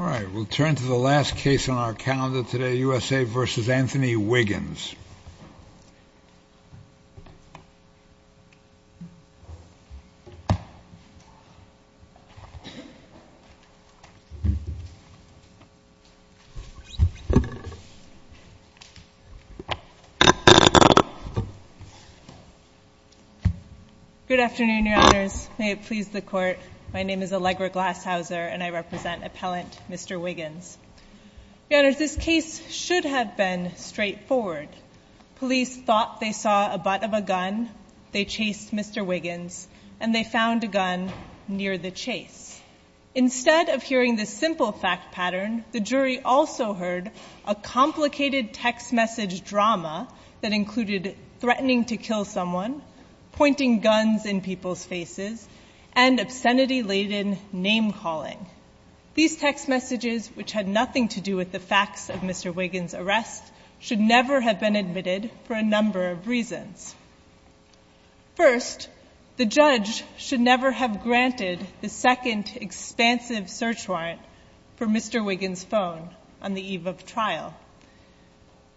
All right, we'll turn to the last case on our calendar today, U.S.A. v. Anthony Wiggins. Good afternoon, Your Honors. My name is Allegra Glasshauser, and I represent appellant Mr. Wiggins. Your Honors, this case should have been straightforward. Police thought they saw a butt of a gun, they chased Mr. Wiggins, and they found a gun near the chase. Instead of hearing the simple fact pattern, the jury also heard a complicated text message drama that included threatening to kill someone, pointing guns in people's faces, and obscenity-laden name-calling. These text messages, which had nothing to do with the facts of Mr. Wiggins' arrest, should never have been admitted for a number of reasons. First, the judge should never have granted the second expansive search warrant for Mr. Wiggins' phone on the eve of trial.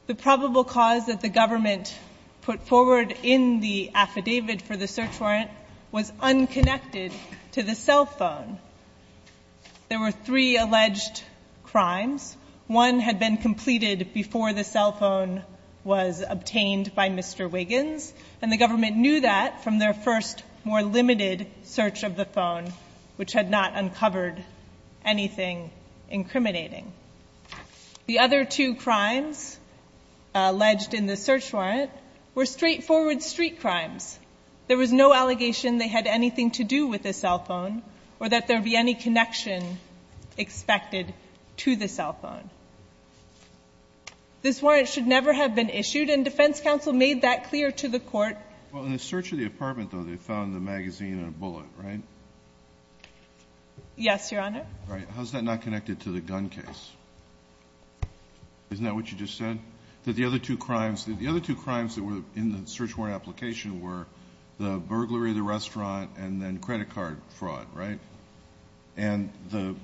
The probable cause that the government put forward in the affidavit for the search warrant was unconnected to the cell phone. There were three alleged crimes. One had been completed before the cell phone was obtained by Mr. Wiggins, and the government knew that from their first, more limited search of the phone, which had not uncovered anything incriminating. The other two crimes alleged in the search warrant were straightforward street crimes. There was no allegation they had anything to do with the cell phone or that there would be any connection expected to the cell phone. This warrant should never have been issued, and defense counsel made that clear to the court. Well, in the search of the apartment, though, they found the magazine and a bullet, right? Yes, Your Honor. Right. How is that not connected to the gun case? Isn't that what you just said, that the other two crimes that were in the search warrant application were the burglary of the restaurant and then credit card fraud, right? And a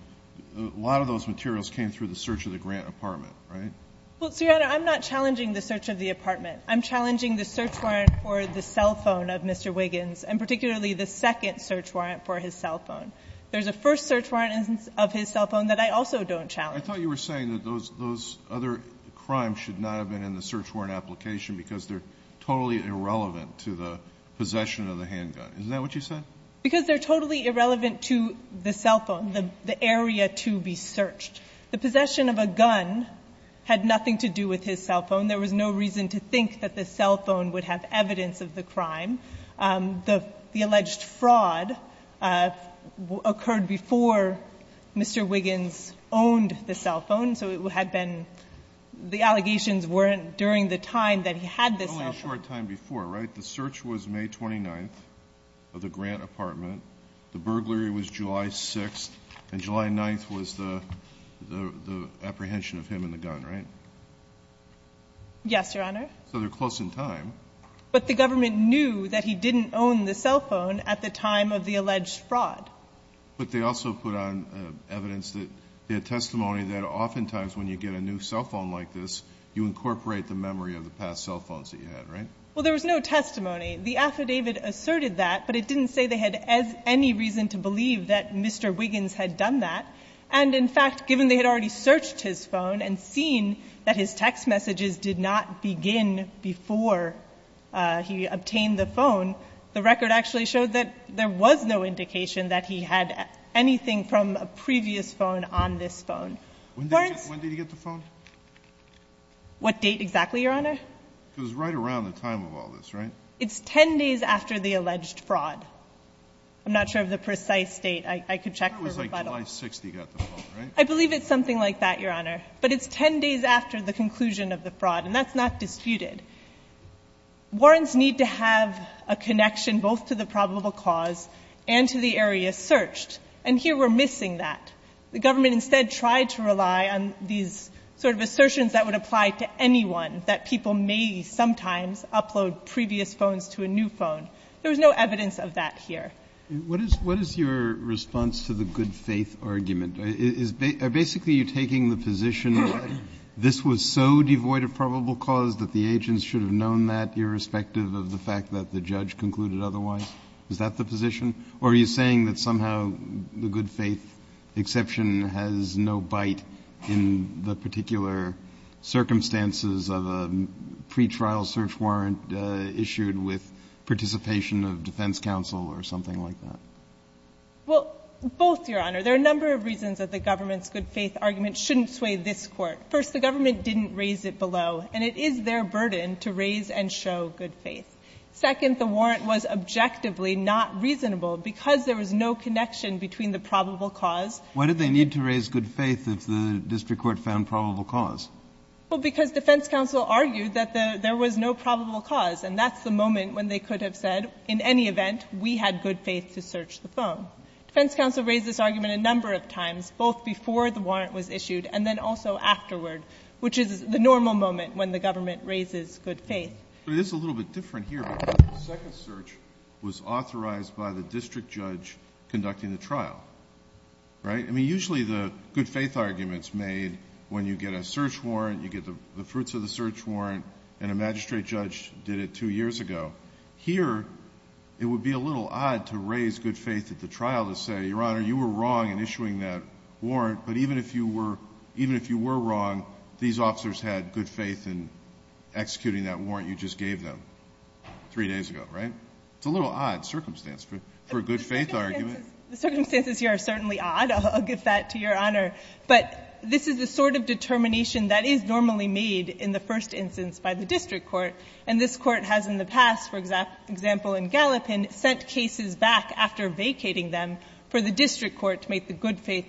lot of those materials came through the search of the grant apartment, right? Well, Your Honor, I'm not challenging the search of the apartment. I'm challenging the search warrant for the cell phone of Mr. Wiggins, and particularly the second search warrant for his cell phone. There's a first search warrant of his cell phone that I also don't challenge. I thought you were saying that those other crimes should not have been in the search warrant application because they're totally irrelevant to the possession of the handgun. Isn't that what you said? Because they're totally irrelevant to the cell phone, the area to be searched. The possession of a gun had nothing to do with his cell phone. There was no reason to think that the cell phone would have evidence of the crime. The alleged fraud occurred before Mr. Wiggins owned the cell phone, so it had been – the allegations weren't during the time that he had this cell phone. It was only a short time before, right? The search was May 29th of the grant apartment. The burglary was July 6th, and July 9th was the apprehension of him and the gun, right? Yes, Your Honor. So they're close in time. But the government knew that he didn't own the cell phone at the time of the alleged fraud. But they also put on evidence that – testimony that oftentimes when you get a new cell phone like this, you incorporate the memory of the past cell phones that you had, right? Well, there was no testimony. The affidavit asserted that, but it didn't say they had any reason to believe that Mr. Wiggins had done that. And in fact, given they had already searched his phone and seen that his text messages did not begin before he obtained the phone, the record actually showed that there was no indication that he had anything from a previous phone on this phone. When did he get the phone? What date exactly, Your Honor? It was right around the time of all this, right? It's 10 days after the alleged fraud. I'm not sure of the precise date. I could check for rebuttal. I think it was like July 6th that he got the phone, right? I believe it's something like that, Your Honor. But it's 10 days after the conclusion of the fraud, and that's not disputed. Warrants need to have a connection both to the probable cause and to the area searched. And here we're missing that. The government instead tried to rely on these sort of assertions that would apply to anyone, that people may sometimes upload previous phones to a new phone. There was no evidence of that here. What is your response to the good faith argument? Are basically you taking the position that this was so devoid of probable cause that the agents should have known that irrespective of the fact that the judge concluded otherwise? Is that the position? Or are you saying that somehow the good faith exception has no bite in the particular circumstances of a pretrial search warrant issued with participation of defense counsel or something like that? Well, both, Your Honor. There are a number of reasons that the government's good faith argument shouldn't sway this Court. First, the government didn't raise it below, and it is their burden to raise and show good faith. Second, the warrant was objectively not reasonable because there was no connection between the probable cause. Why did they need to raise good faith if the district court found probable cause? Well, because defense counsel argued that there was no probable cause, and that's the moment when they could have said, in any event, we had good faith to search the phone. Defense counsel raised this argument a number of times, both before the warrant was issued and then also afterward, which is the normal moment when the government raises good faith. But it is a little bit different here. The second search was authorized by the district judge conducting the trial, right? I mean, usually the good faith arguments made when you get a search warrant, you get the fruits of the search warrant, and a magistrate judge did it two years ago. Here, it would be a little odd to raise good faith at the trial to say, Your Honor, you were wrong in issuing that warrant, but even if you were wrong, these officers had good faith in executing that warrant you just gave them three days ago, right? It's a little odd circumstance for a good faith argument. The circumstances here are certainly odd. I'll give that to Your Honor. But this is the sort of determination that is normally made in the first instance by the district court, and this court has in the past, for example, in Gallipin, sent cases back after vacating them for the district court to make the good faith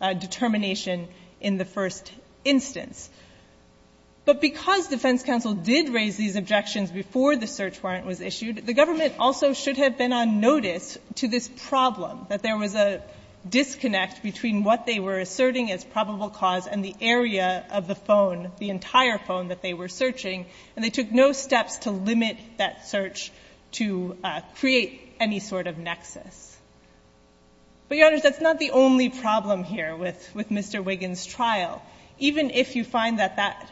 determination in the first instance. But because defense counsel did raise these objections before the search warrant was issued, the government also should have been on notice to this problem, that there was a disconnect between what they were asserting as probable cause and the And they took no steps to limit that search to create any sort of nexus. But, Your Honor, that's not the only problem here with Mr. Wiggins' trial. Even if you find that that,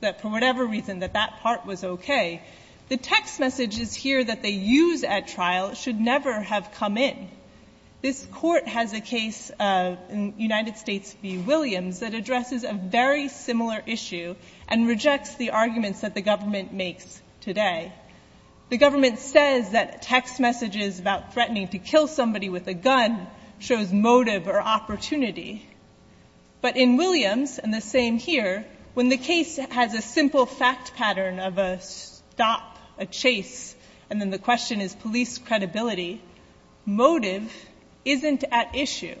that for whatever reason, that that part was okay, the text messages here that they use at trial should never have come in. This court has a case in United States v. Williams that addresses a very similar issue and rejects the arguments that the government makes today. The government says that text messages about threatening to kill somebody with a gun shows motive or opportunity. But in Williams, and the same here, when the case has a simple fact pattern of a stop, a chase, and then the question is police credibility, motive isn't at issue.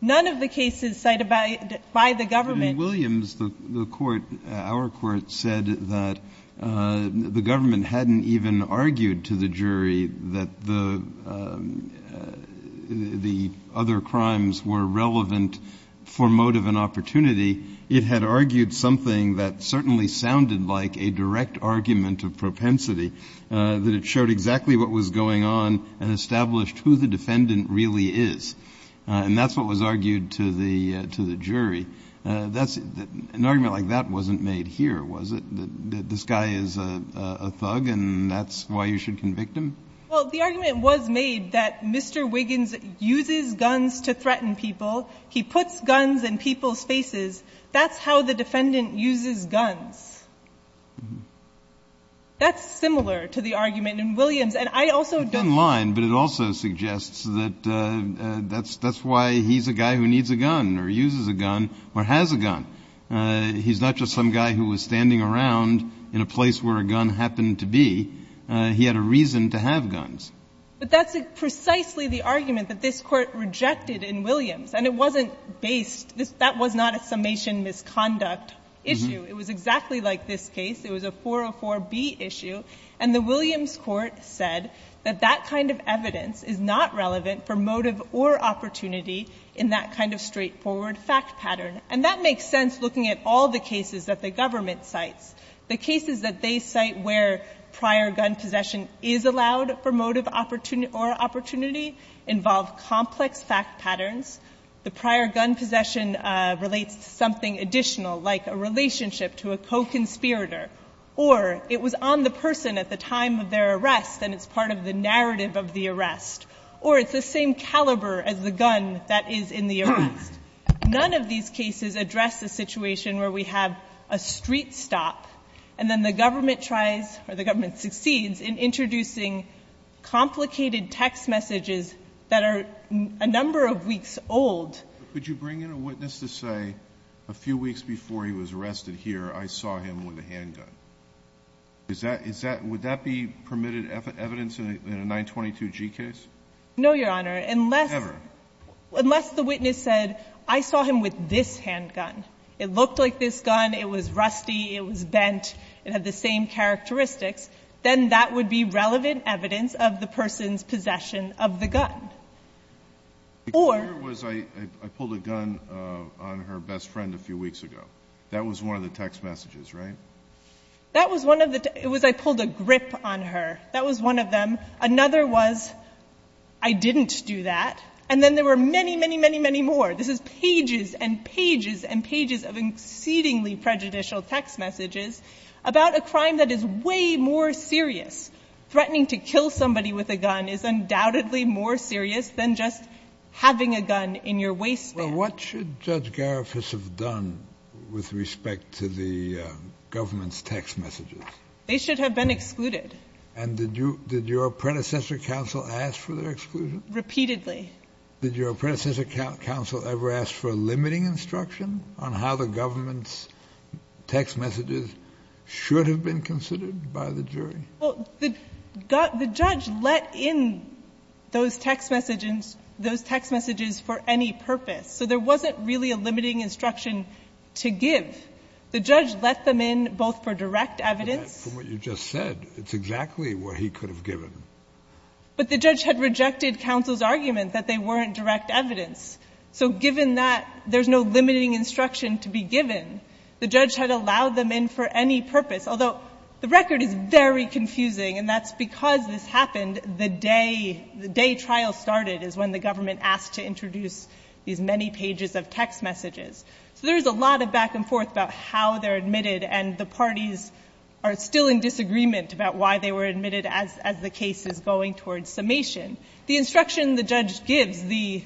None of the cases cited by the government- In Williams, the court, our court said that the government hadn't even argued to the jury that the other crimes were relevant for motive and opportunity. It had argued something that certainly sounded like a direct argument of propensity, that it showed exactly what was going on and established who the defendant really is. And that's what was argued to the jury. An argument like that wasn't made here, was it? This guy is a thug and that's why you should convict him? Well, the argument was made that Mr. Wiggins uses guns to threaten people. He puts guns in people's faces. That's how the defendant uses guns. That's similar to the argument in Williams, and I also don't- The gun line, but it also suggests that that's why he's a guy who needs a gun or uses a gun or has a gun. He's not just some guy who was standing around in a place where a gun happened to be, he had a reason to have guns. But that's precisely the argument that this court rejected in Williams. And it wasn't based, that was not a summation misconduct issue. It was exactly like this case. It was a 404B issue. And the Williams court said that that kind of evidence is not relevant for a kind of straightforward fact pattern. And that makes sense looking at all the cases that the government cites. The cases that they cite where prior gun possession is allowed for motive or opportunity involve complex fact patterns. The prior gun possession relates to something additional, like a relationship to a co-conspirator. Or it was on the person at the time of their arrest and it's part of the narrative of the arrest. Or it's the same caliber as the gun that is in the arrest. None of these cases address the situation where we have a street stop and then the government tries, or the government succeeds in introducing complicated text messages that are a number of weeks old. Could you bring in a witness to say, a few weeks before he was arrested here, I saw him with a handgun? Would that be permitted evidence in a 922G case? No, Your Honor, unless the witness said, I saw him with this handgun. It looked like this gun, it was rusty, it was bent, it had the same characteristics. Then that would be relevant evidence of the person's possession of the gun. Or- I pulled a gun on her best friend a few weeks ago. That was one of the text messages, right? That was one of the, it was I pulled a grip on her. That was one of them. Another was, I didn't do that. And then there were many, many, many, many more. This is pages and pages and pages of exceedingly prejudicial text messages about a crime that is way more serious. Threatening to kill somebody with a gun is undoubtedly more serious than just having a gun in your waistband. Well, what should Judge Garifuss have done with respect to the government's text messages? They should have been excluded. And did your predecessor counsel ask for their exclusion? Repeatedly. Did your predecessor counsel ever ask for limiting instruction on how the government's text messages should have been considered by the jury? Well, the judge let in those text messages for any purpose. So there wasn't really a limiting instruction to give. The judge let them in both for direct evidence- From what you just said, it's exactly what he could have given. But the judge had rejected counsel's argument that they weren't direct evidence. So given that there's no limiting instruction to be given, the judge had allowed them in for any purpose, although the record is very confusing. And that's because this happened the day, the day trial started is when the government asked to introduce these many pages of text messages. So there's a lot of back and forth about how they're admitted and the parties are still in disagreement about why they were admitted as the case is going towards summation. The instruction the judge gives, the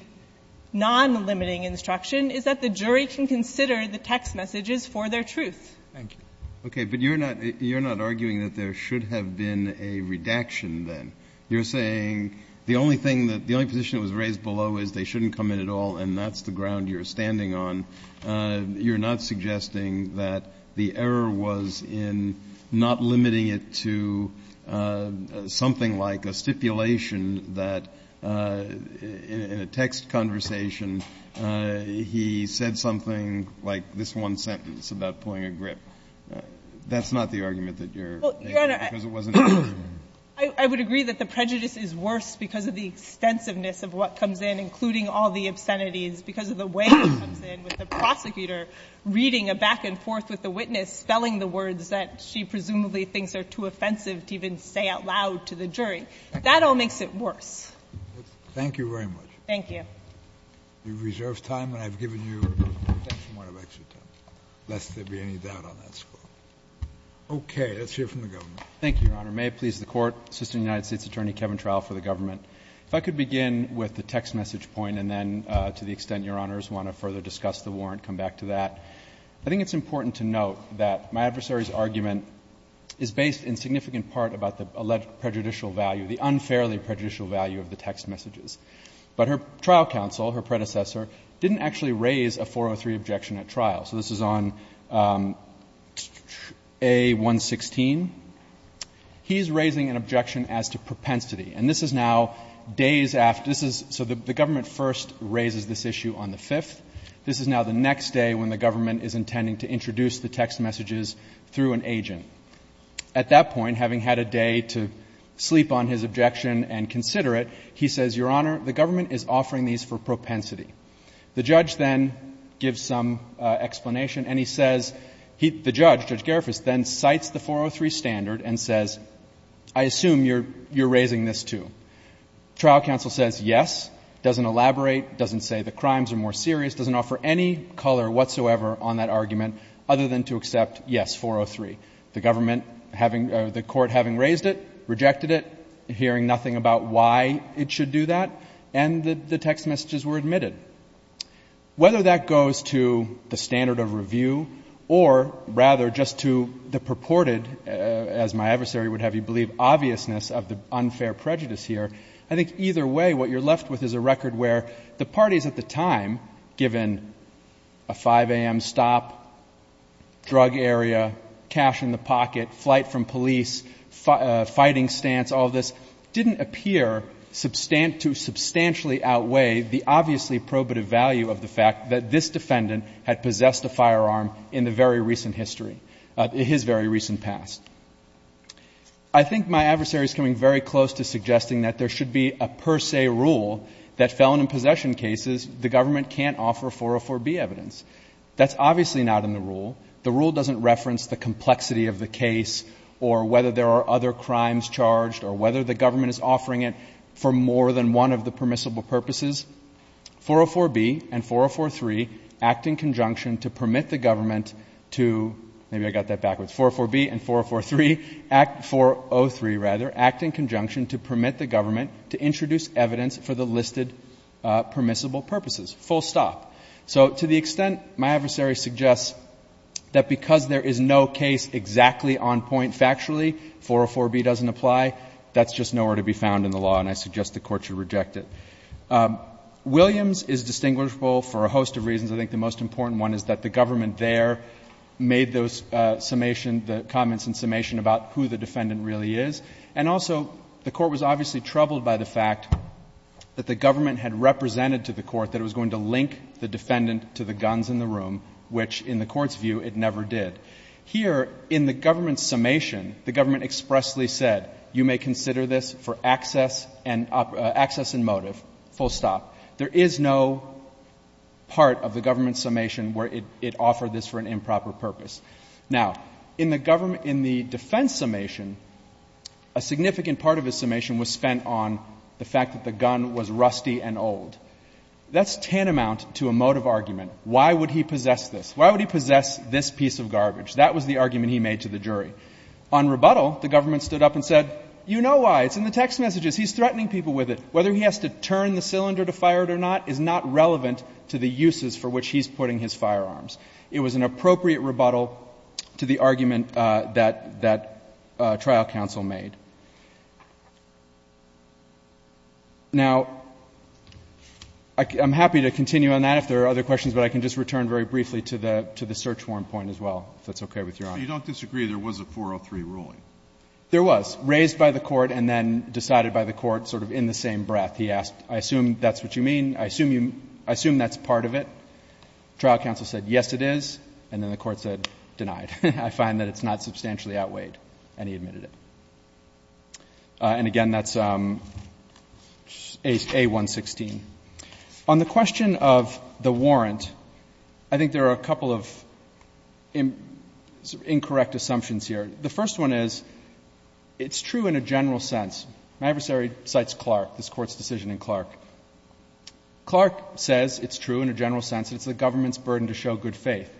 non-limiting instruction, is that the jury can consider the text messages for their truth. Thank you. Okay, but you're not, you're not arguing that there should have been a redaction then. You're saying the only thing that, the only position that was raised below is they shouldn't come in at all and that's the ground you're standing on. You're not suggesting that the error was in not limiting it to something like a stipulation that in a text conversation, he said something like this one sentence about pulling a grip. That's not the argument that you're making because it wasn't clear. I would agree that the prejudice is worse because of the extensiveness of what comes in, including all the obscenities, because of the way it comes in with the prosecutor reading a back and forth with the witness, spelling the words that she presumably thinks are too offensive to even say out loud to the jury. That all makes it worse. Thank you very much. Thank you. We reserve time, and I've given you a point of extra time, lest there be any doubt on that score. Okay, let's hear from the government. Thank you, Your Honor. May it please the Court, Assistant United States Attorney Kevin Trowell for the government. If I could begin with the text message point, and then to the extent Your Honor want to further discuss the warrant, come back to that. I think it's important to note that my adversary's argument is based in significant part about the alleged prejudicial value, the unfairly prejudicial value of the text messages. But her trial counsel, her predecessor, didn't actually raise a 403 objection at trial. So this is on A116. He's raising an objection as to propensity, and this is now days after—this is—so the government first raises this issue on the 5th. This is now the next day when the government is intending to introduce the text messages through an agent. At that point, having had a day to sleep on his objection and consider it, he says, Your Honor, the government is offering these for propensity. The judge then gives some explanation, and he says—the judge, Judge Garifuss, then cites the 403 standard and says, I assume you're raising this too. Trial counsel says yes, doesn't elaborate, doesn't say the crimes are more serious, doesn't offer any color whatsoever on that argument other than to accept yes, 403. The government having—the court having raised it, rejected it, hearing nothing about why it should do that, and the text messages were admitted. Whether that goes to the standard of review or rather just to the purported, as my adversary would have you believe, obviousness of the unfair prejudice here, I think either way what you're left with is a record where the parties at the time, given a 5 a.m. stop, drug area, cash in the pocket, flight from police, fighting stance, all this, didn't appear to substantially outweigh the obviously probative value of the fact that this defendant had possessed a firearm in the very recent history—his very recent past. I think my adversary is coming very close to suggesting that there should be a per se rule that felon in possession cases, the government can't offer 404B evidence. That's obviously not in the rule. The rule doesn't reference the complexity of the case or whether there are other crimes charged or whether the government is offering it for more than one of the permissible purposes. 404B and 403 act in conjunction to permit the government to—maybe I got that backwards—404B and 403 act—403, rather—act in conjunction to permit the government to introduce evidence for the listed permissible purposes, full stop. So to the extent my adversary suggests that because there is no case exactly on point factually, 404B doesn't apply, that's just nowhere to be found in the law, and I suggest the Court should reject it. Williams is distinguishable for a host of reasons. I think the most important one is that the government there made those summation—the comments in summation about who the defendant really is. And also, the Court was obviously troubled by the fact that the government had represented to the Court that it was going to link the defendant to the guns in the room, which in the Court's view, it never did. Here in the government's summation, the government expressly said, you may consider this for access and motive, full stop. There is no part of the government's summation where it offered this for an improper purpose. Now, in the defense summation, a significant part of the summation was spent on the fact that the gun was rusty and old. That's tantamount to a motive argument. Why would he possess this? Why would he possess this piece of garbage? That was the argument he made to the jury. On rebuttal, the government stood up and said, you know why. It's in the text messages. He's threatening people with it. Whether he has to turn the cylinder to fire it or not is not relevant to the uses for which he's putting his firearms. It was an appropriate rebuttal to the argument that trial counsel made. Now, I'm happy to continue on that if there are other questions, but I can just return very briefly to the search warrant point as well, if that's okay with Your Honor. Alito, you don't disagree there was a 403 ruling? There was, raised by the Court and then decided by the Court sort of in the same breath. He asked, I assume that's what you mean, I assume that's part of it. Trial counsel said, yes, it is, and then the Court said, denied. I find that it's not substantially outweighed, and he admitted it. And again, that's A116. On the question of the warrant, I think there are a couple of incorrect assumptions here. The first one is, it's true in a general sense. My adversary cites Clark, this Court's decision in Clark. Clark says it's true in a general sense, it's the government's burden to show good faith.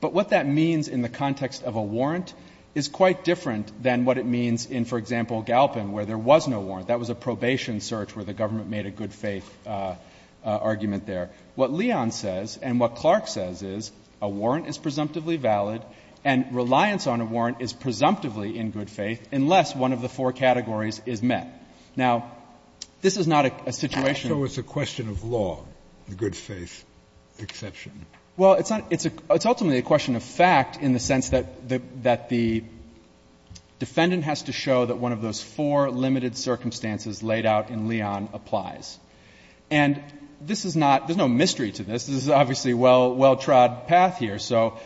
But what that means in the context of a warrant is quite different than what it means in, for example, Galpin, where there was no warrant. That was a probation search where the government made a good faith argument there. What Leon says and what Clark says is, a warrant is presumptively valid and reliance on a warrant is presumptively in good faith unless one of the four categories is met. Now, this is not a situation of law, the good faith exception. Well, it's ultimately a question of fact in the sense that the defendant has to show that one of those four limited circumstances laid out in Leon applies. And this is not — there's no mystery to this. This is obviously a well-trod path here. So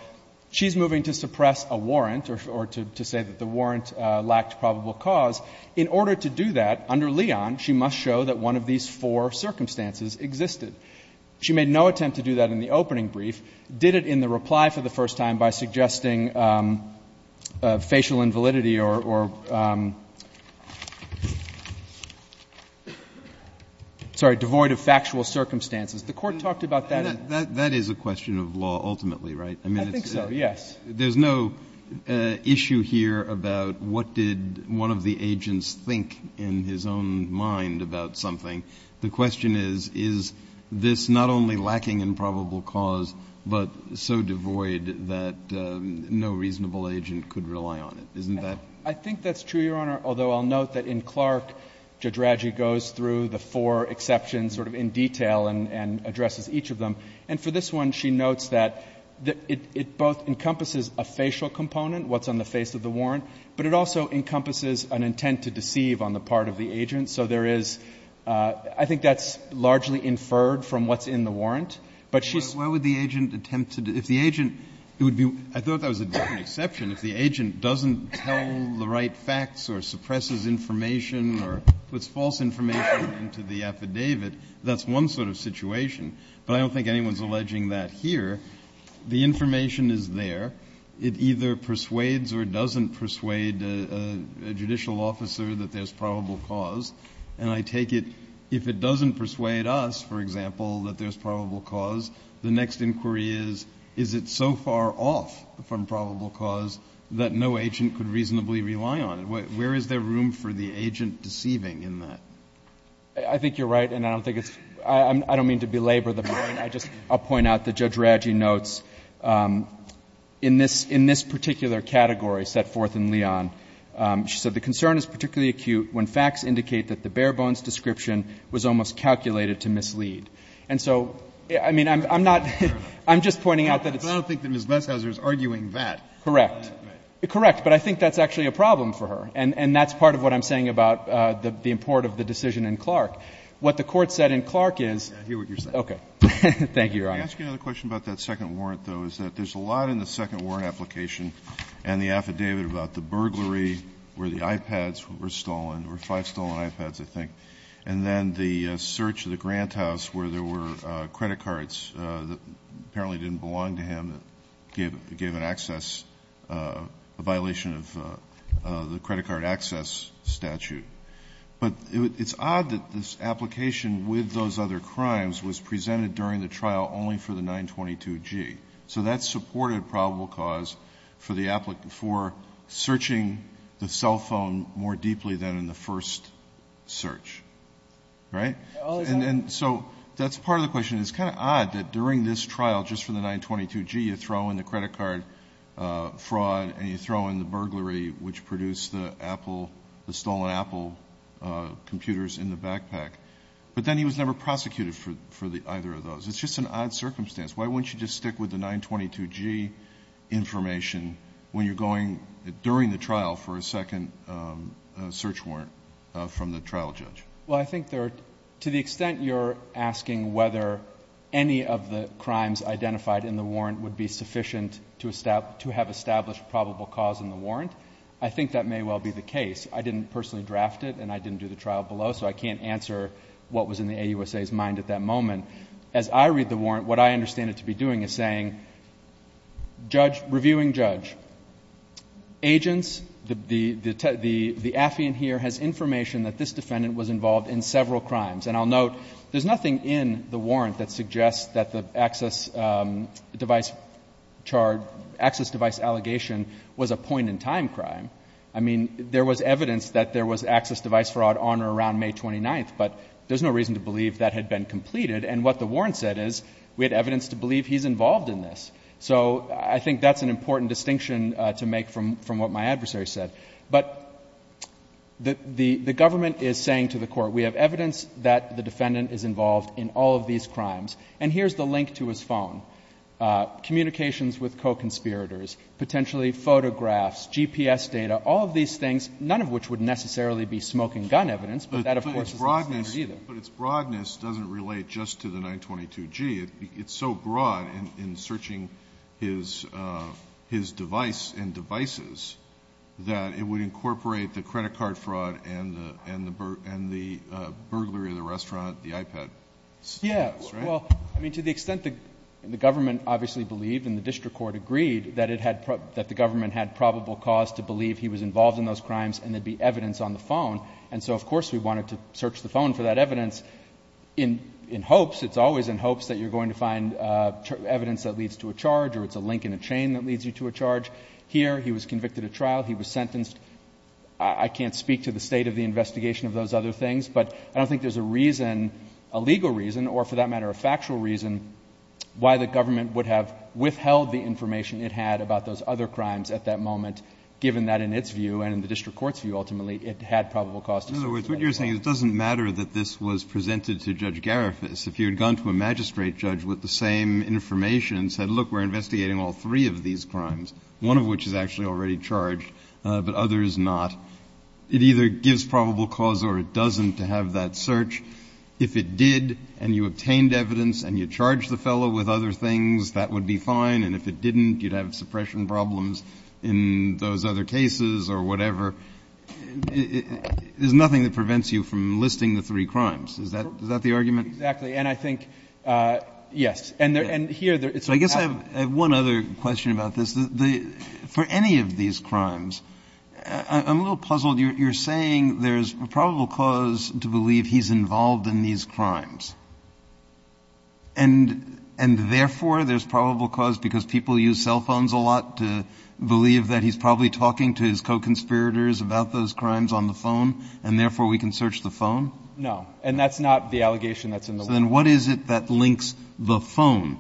she's moving to suppress a warrant or to say that the warrant lacked probable cause. In order to do that, under Leon, she must show that one of these four circumstances existed. She made no attempt to do that in the opening brief, did it in the reply for the first time, by suggesting facial invalidity or — sorry, devoid of factual circumstances. The Court talked about that. That is a question of law ultimately, right? I think so, yes. There's no issue here about what did one of the agents think in his own mind about something. The question is, is this not only lacking in probable cause, but so devoid that no reasonable agent could rely on it. Isn't that — I think that's true, Your Honor, although I'll note that in Clark, Jadragi goes through the four exceptions sort of in detail and addresses each of them. And for this one, she notes that it both encompasses a facial component, what's on the face of the warrant, but it also encompasses an intent to deceive on the part of the agent. So there is — I think that's largely inferred from what's in the warrant. But she's — But why would the agent attempt to — if the agent — it would be — I thought that was a different exception. If the agent doesn't tell the right facts or suppresses information or puts false information into the affidavit, that's one sort of situation. But I don't think anyone's alleging that here. The information is there. It either persuades or doesn't persuade a judicial officer that there's probable cause. And I take it, if it doesn't persuade us, for example, that there's probable cause, the next inquiry is, is it so far off from probable cause that no agent could reasonably rely on it? Where is there room for the agent deceiving in that? I think you're right. And I don't think it's — I don't mean to belabor the point. I just — I'll point out that Jadragi notes in this — in this particular category set forth in Leon, she said, And so, I mean, I'm not — I'm just pointing out that it's — But I don't think that Ms. Glashowser is arguing that. Correct. Correct. But I think that's actually a problem for her. And that's part of what I'm saying about the import of the decision in Clark. What the Court said in Clark is — I hear what you're saying. Okay. Thank you, Your Honor. May I ask you another question about that second warrant, though, is that there's a lot in the second warrant application and the affidavit about the burglary where the iPads were stolen, or five stolen iPads, I think, and then the search of the Grant House where there were credit cards that apparently didn't belong to him that gave — gave an access — a violation of the credit card access statute. But it's odd that this application with those other crimes was presented during the trial only for the 922G. So that supported probable cause for the — for searching the cell phone more deeply than in the first search. Right? And so that's part of the question. It's kind of odd that during this trial, just for the 922G, you throw in the credit card fraud and you throw in the burglary which produced the Apple — the stolen Apple computers in the backpack. But then he was never prosecuted for the — either of those. It's just an odd circumstance. Why wouldn't you just stick with the 922G information when you're going — during the trial for a second search warrant from the trial judge? Well, I think there — to the extent you're asking whether any of the crimes identified in the warrant would be sufficient to have established probable cause in the warrant, I think that may well be the case. I didn't personally draft it and I didn't do the trial below, so I can't answer what was in the AUSA's mind at that moment. As I read the warrant, what I understand it to be doing is saying, judge — reviewing judge, agents, the — the affiant here has information that this defendant was involved in several crimes. And I'll note, there's nothing in the warrant that suggests that the access device charge — access device allegation was a point-in-time crime. I mean, there was evidence that there was access device fraud on or around May 29th, but there's no reason to believe that had been completed. And what the warrant said is, we had evidence to believe he's involved in this. So I think that's an important distinction to make from — from what my adversary said. But the — the government is saying to the Court, we have evidence that the defendant is involved in all of these crimes. And here's the link to his phone. Communications with co-conspirators, potentially photographs, GPS data, all of these But its broadness doesn't relate just to the 922-G. It's so broad in searching his — his device and devices that it would incorporate the credit card fraud and the — and the burglary of the restaurant, the iPad. Yeah. Well, I mean, to the extent that the government obviously believed and the district court agreed that it had — that the government had probable cause to believe he was involved in those crimes and there'd be evidence on the phone. And so, of course, we wanted to search the phone for that evidence in — in hopes — it's always in hopes that you're going to find evidence that leads to a charge or it's a link in a chain that leads you to a charge. Here, he was convicted of trial. He was sentenced. I can't speak to the state of the investigation of those other things. But I don't think there's a reason — a legal reason or, for that matter, a factual reason why the government would have withheld the information it had about those other crimes at that moment, given that, in its view and in the district court's view, ultimately, it had probable cause to search the phone. In other words, what you're saying is it doesn't matter that this was presented to Judge Garifas. If you had gone to a magistrate judge with the same information and said, look, we're investigating all three of these crimes, one of which is actually already charged, but others not, it either gives probable cause or it doesn't to have that search. If it did and you obtained evidence and you charged the fellow with other things, that would be fine. And if it didn't, you'd have suppression problems in those other cases or whatever. There's nothing that prevents you from listing the three crimes. Is that the argument? Exactly. And I think — yes. And here — So I guess I have one other question about this. For any of these crimes, I'm a little puzzled. You're saying there's probable cause to believe he's involved in these crimes. And therefore, there's probable cause because people use cell phones a lot to believe that he's probably talking to his co-conspirators about those crimes on the phone and, therefore, we can search the phone? No. And that's not the allegation that's in the law. So then what is it that links the phone?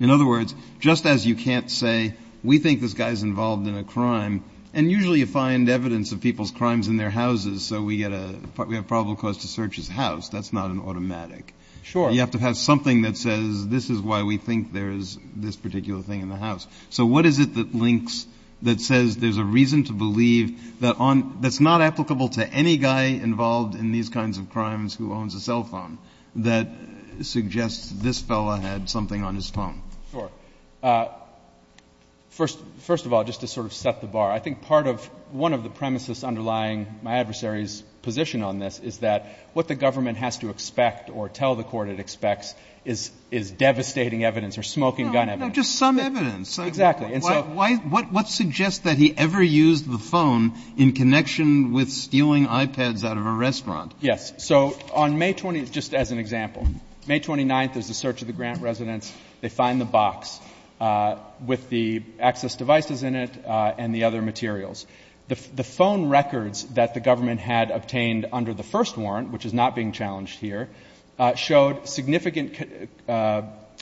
In other words, just as you can't say, we think this guy's involved in a crime — and usually you find evidence of people's crimes in their houses, so we get a — we have probable cause to search his house. That's not an automatic. Sure. thing in the house. So what is it that links — that says there's a reason to believe that on — that's not applicable to any guy involved in these kinds of crimes who owns a cell phone, that suggests this fellow had something on his phone? Sure. First of all, just to sort of set the bar, I think part of — one of the premises underlying my adversary's position on this is that what the government has to expect or tell the court it expects is devastating evidence or smoking gun evidence. No, just some evidence. Exactly. And so — Why — what suggests that he ever used the phone in connection with stealing iPads out of a restaurant? Yes. So on May — just as an example, May 29th is the search of the Grant residence. They find the box with the access devices in it and the other materials. The phone records that the government had obtained under the first warrant, which is not being challenged here, showed significant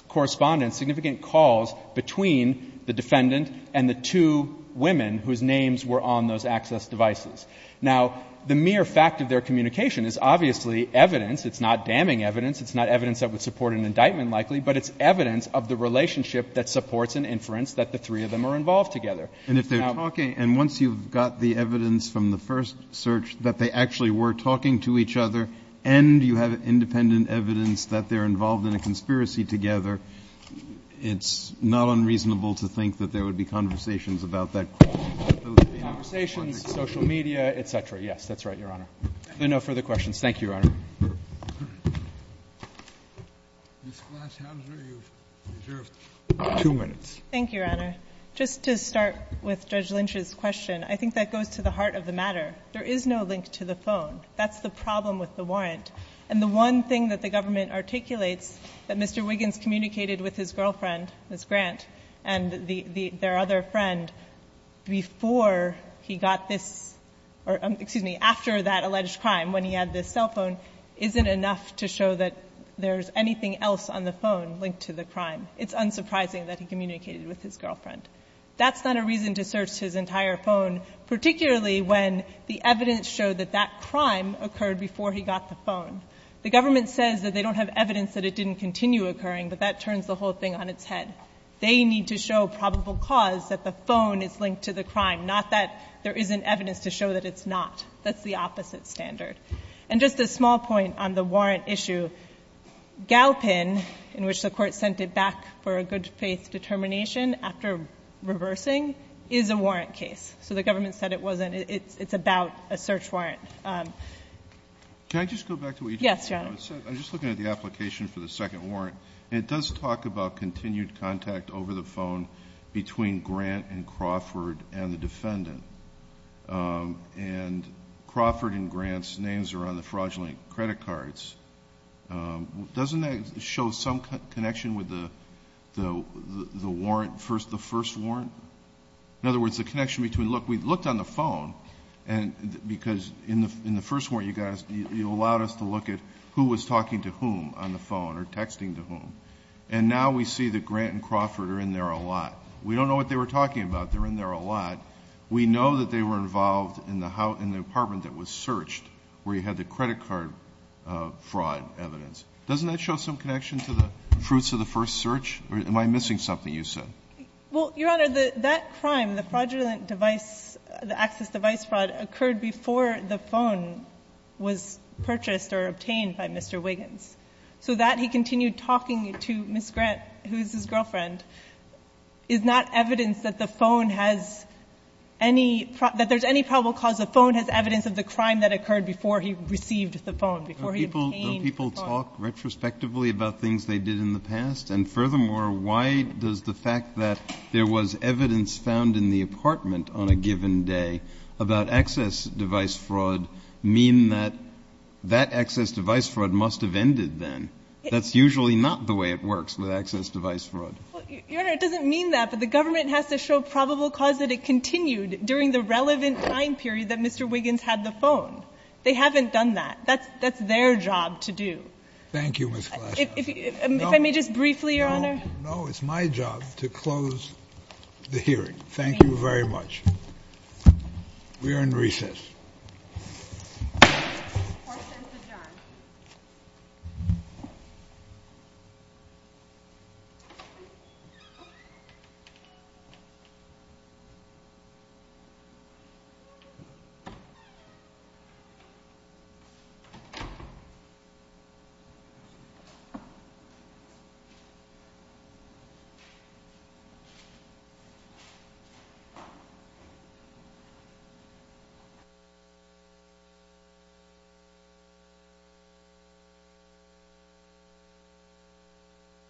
correspondence, significant calls between the defendant and the two women whose names were on those access devices. Now, the mere fact of their communication is obviously evidence. It's not damning evidence. It's not evidence that would support an indictment, likely, but it's evidence of the relationship that supports an inference that the three of them are involved together. And if they're talking — and once you've got the evidence from the first search that they actually were talking to each other and you have independent evidence that they're involved in a conspiracy together, it's not unreasonable to think that there would be conversations about that. Conversations, social media, et cetera. Yes, that's right, Your Honor. There are no further questions. Thank you, Your Honor. Ms. Glashauser, you've reserved two minutes. Thank you, Your Honor. Just to start with Judge Lynch's question, I think that goes to the heart of the matter. There is no link to the phone. That's the problem with the warrant. And the one thing that the government articulates, that Mr. Wiggins communicated with his girlfriend, Ms. Grant, and their other friend, before he got this — or, excuse me, after that alleged crime, when he had this cell phone, isn't enough to show that there's anything else on the phone linked to the crime. It's unsurprising that he communicated with his girlfriend. That's not a reason to search his entire phone, particularly when the evidence showed that that crime occurred before he got the phone. The government says that they don't have evidence that it didn't continue occurring, but that turns the whole thing on its head. They need to show probable cause that the phone is linked to the crime, not that there isn't evidence to show that it's not. That's the opposite standard. And just a small point on the warrant issue. Galpin, in which the court sent it back for a good-faith determination after reversing, is a warrant case. So the government said it wasn't — it's about a search warrant. Can I just go back to what you just said? Yes, Your Honor. I'm just looking at the application for the second warrant, and it does talk about continued contact over the phone between Grant and Crawford and the defendant. And Crawford and Grant's names are on the fraudulent credit cards. Doesn't that show some connection with the warrant — the first warrant? In other words, the connection between — look, we looked on the phone, because in the first warrant, you allowed us to look at who was talking to whom on the phone or texting to whom. And now we see that Grant and Crawford are in there a lot. We don't know what they were talking about. They're in there a lot. We know that they were involved in the apartment that was searched, where he had the credit card fraud evidence. Doesn't that show some connection to the fruits of the first search? Or am I missing something you said? Well, Your Honor, that crime, the fraudulent device — the access device fraud occurred before the phone was purchased or obtained by Mr. Wiggins. So that he continued talking to Ms. Grant, who is his girlfriend, is not evidence that the phone has any — that there's any probable cause that the phone has evidence of the crime that occurred before he received the phone, before he obtained the phone. Don't people talk retrospectively about things they did in the past? And furthermore, why does the fact that there was evidence found in the apartment on a given day about access device fraud mean that that access device fraud must have ended then? That's usually not the way it works with access device fraud. Your Honor, it doesn't mean that, but the government has to show probable cause that it continued during the relevant time period that Mr. Wiggins had the phone. They haven't done that. That's — that's their job to do. Thank you, Ms. Flesch. If — if I may just briefly, Your Honor? No, it's my job to close the hearing. Thank you very much. We are in recess. Thank you.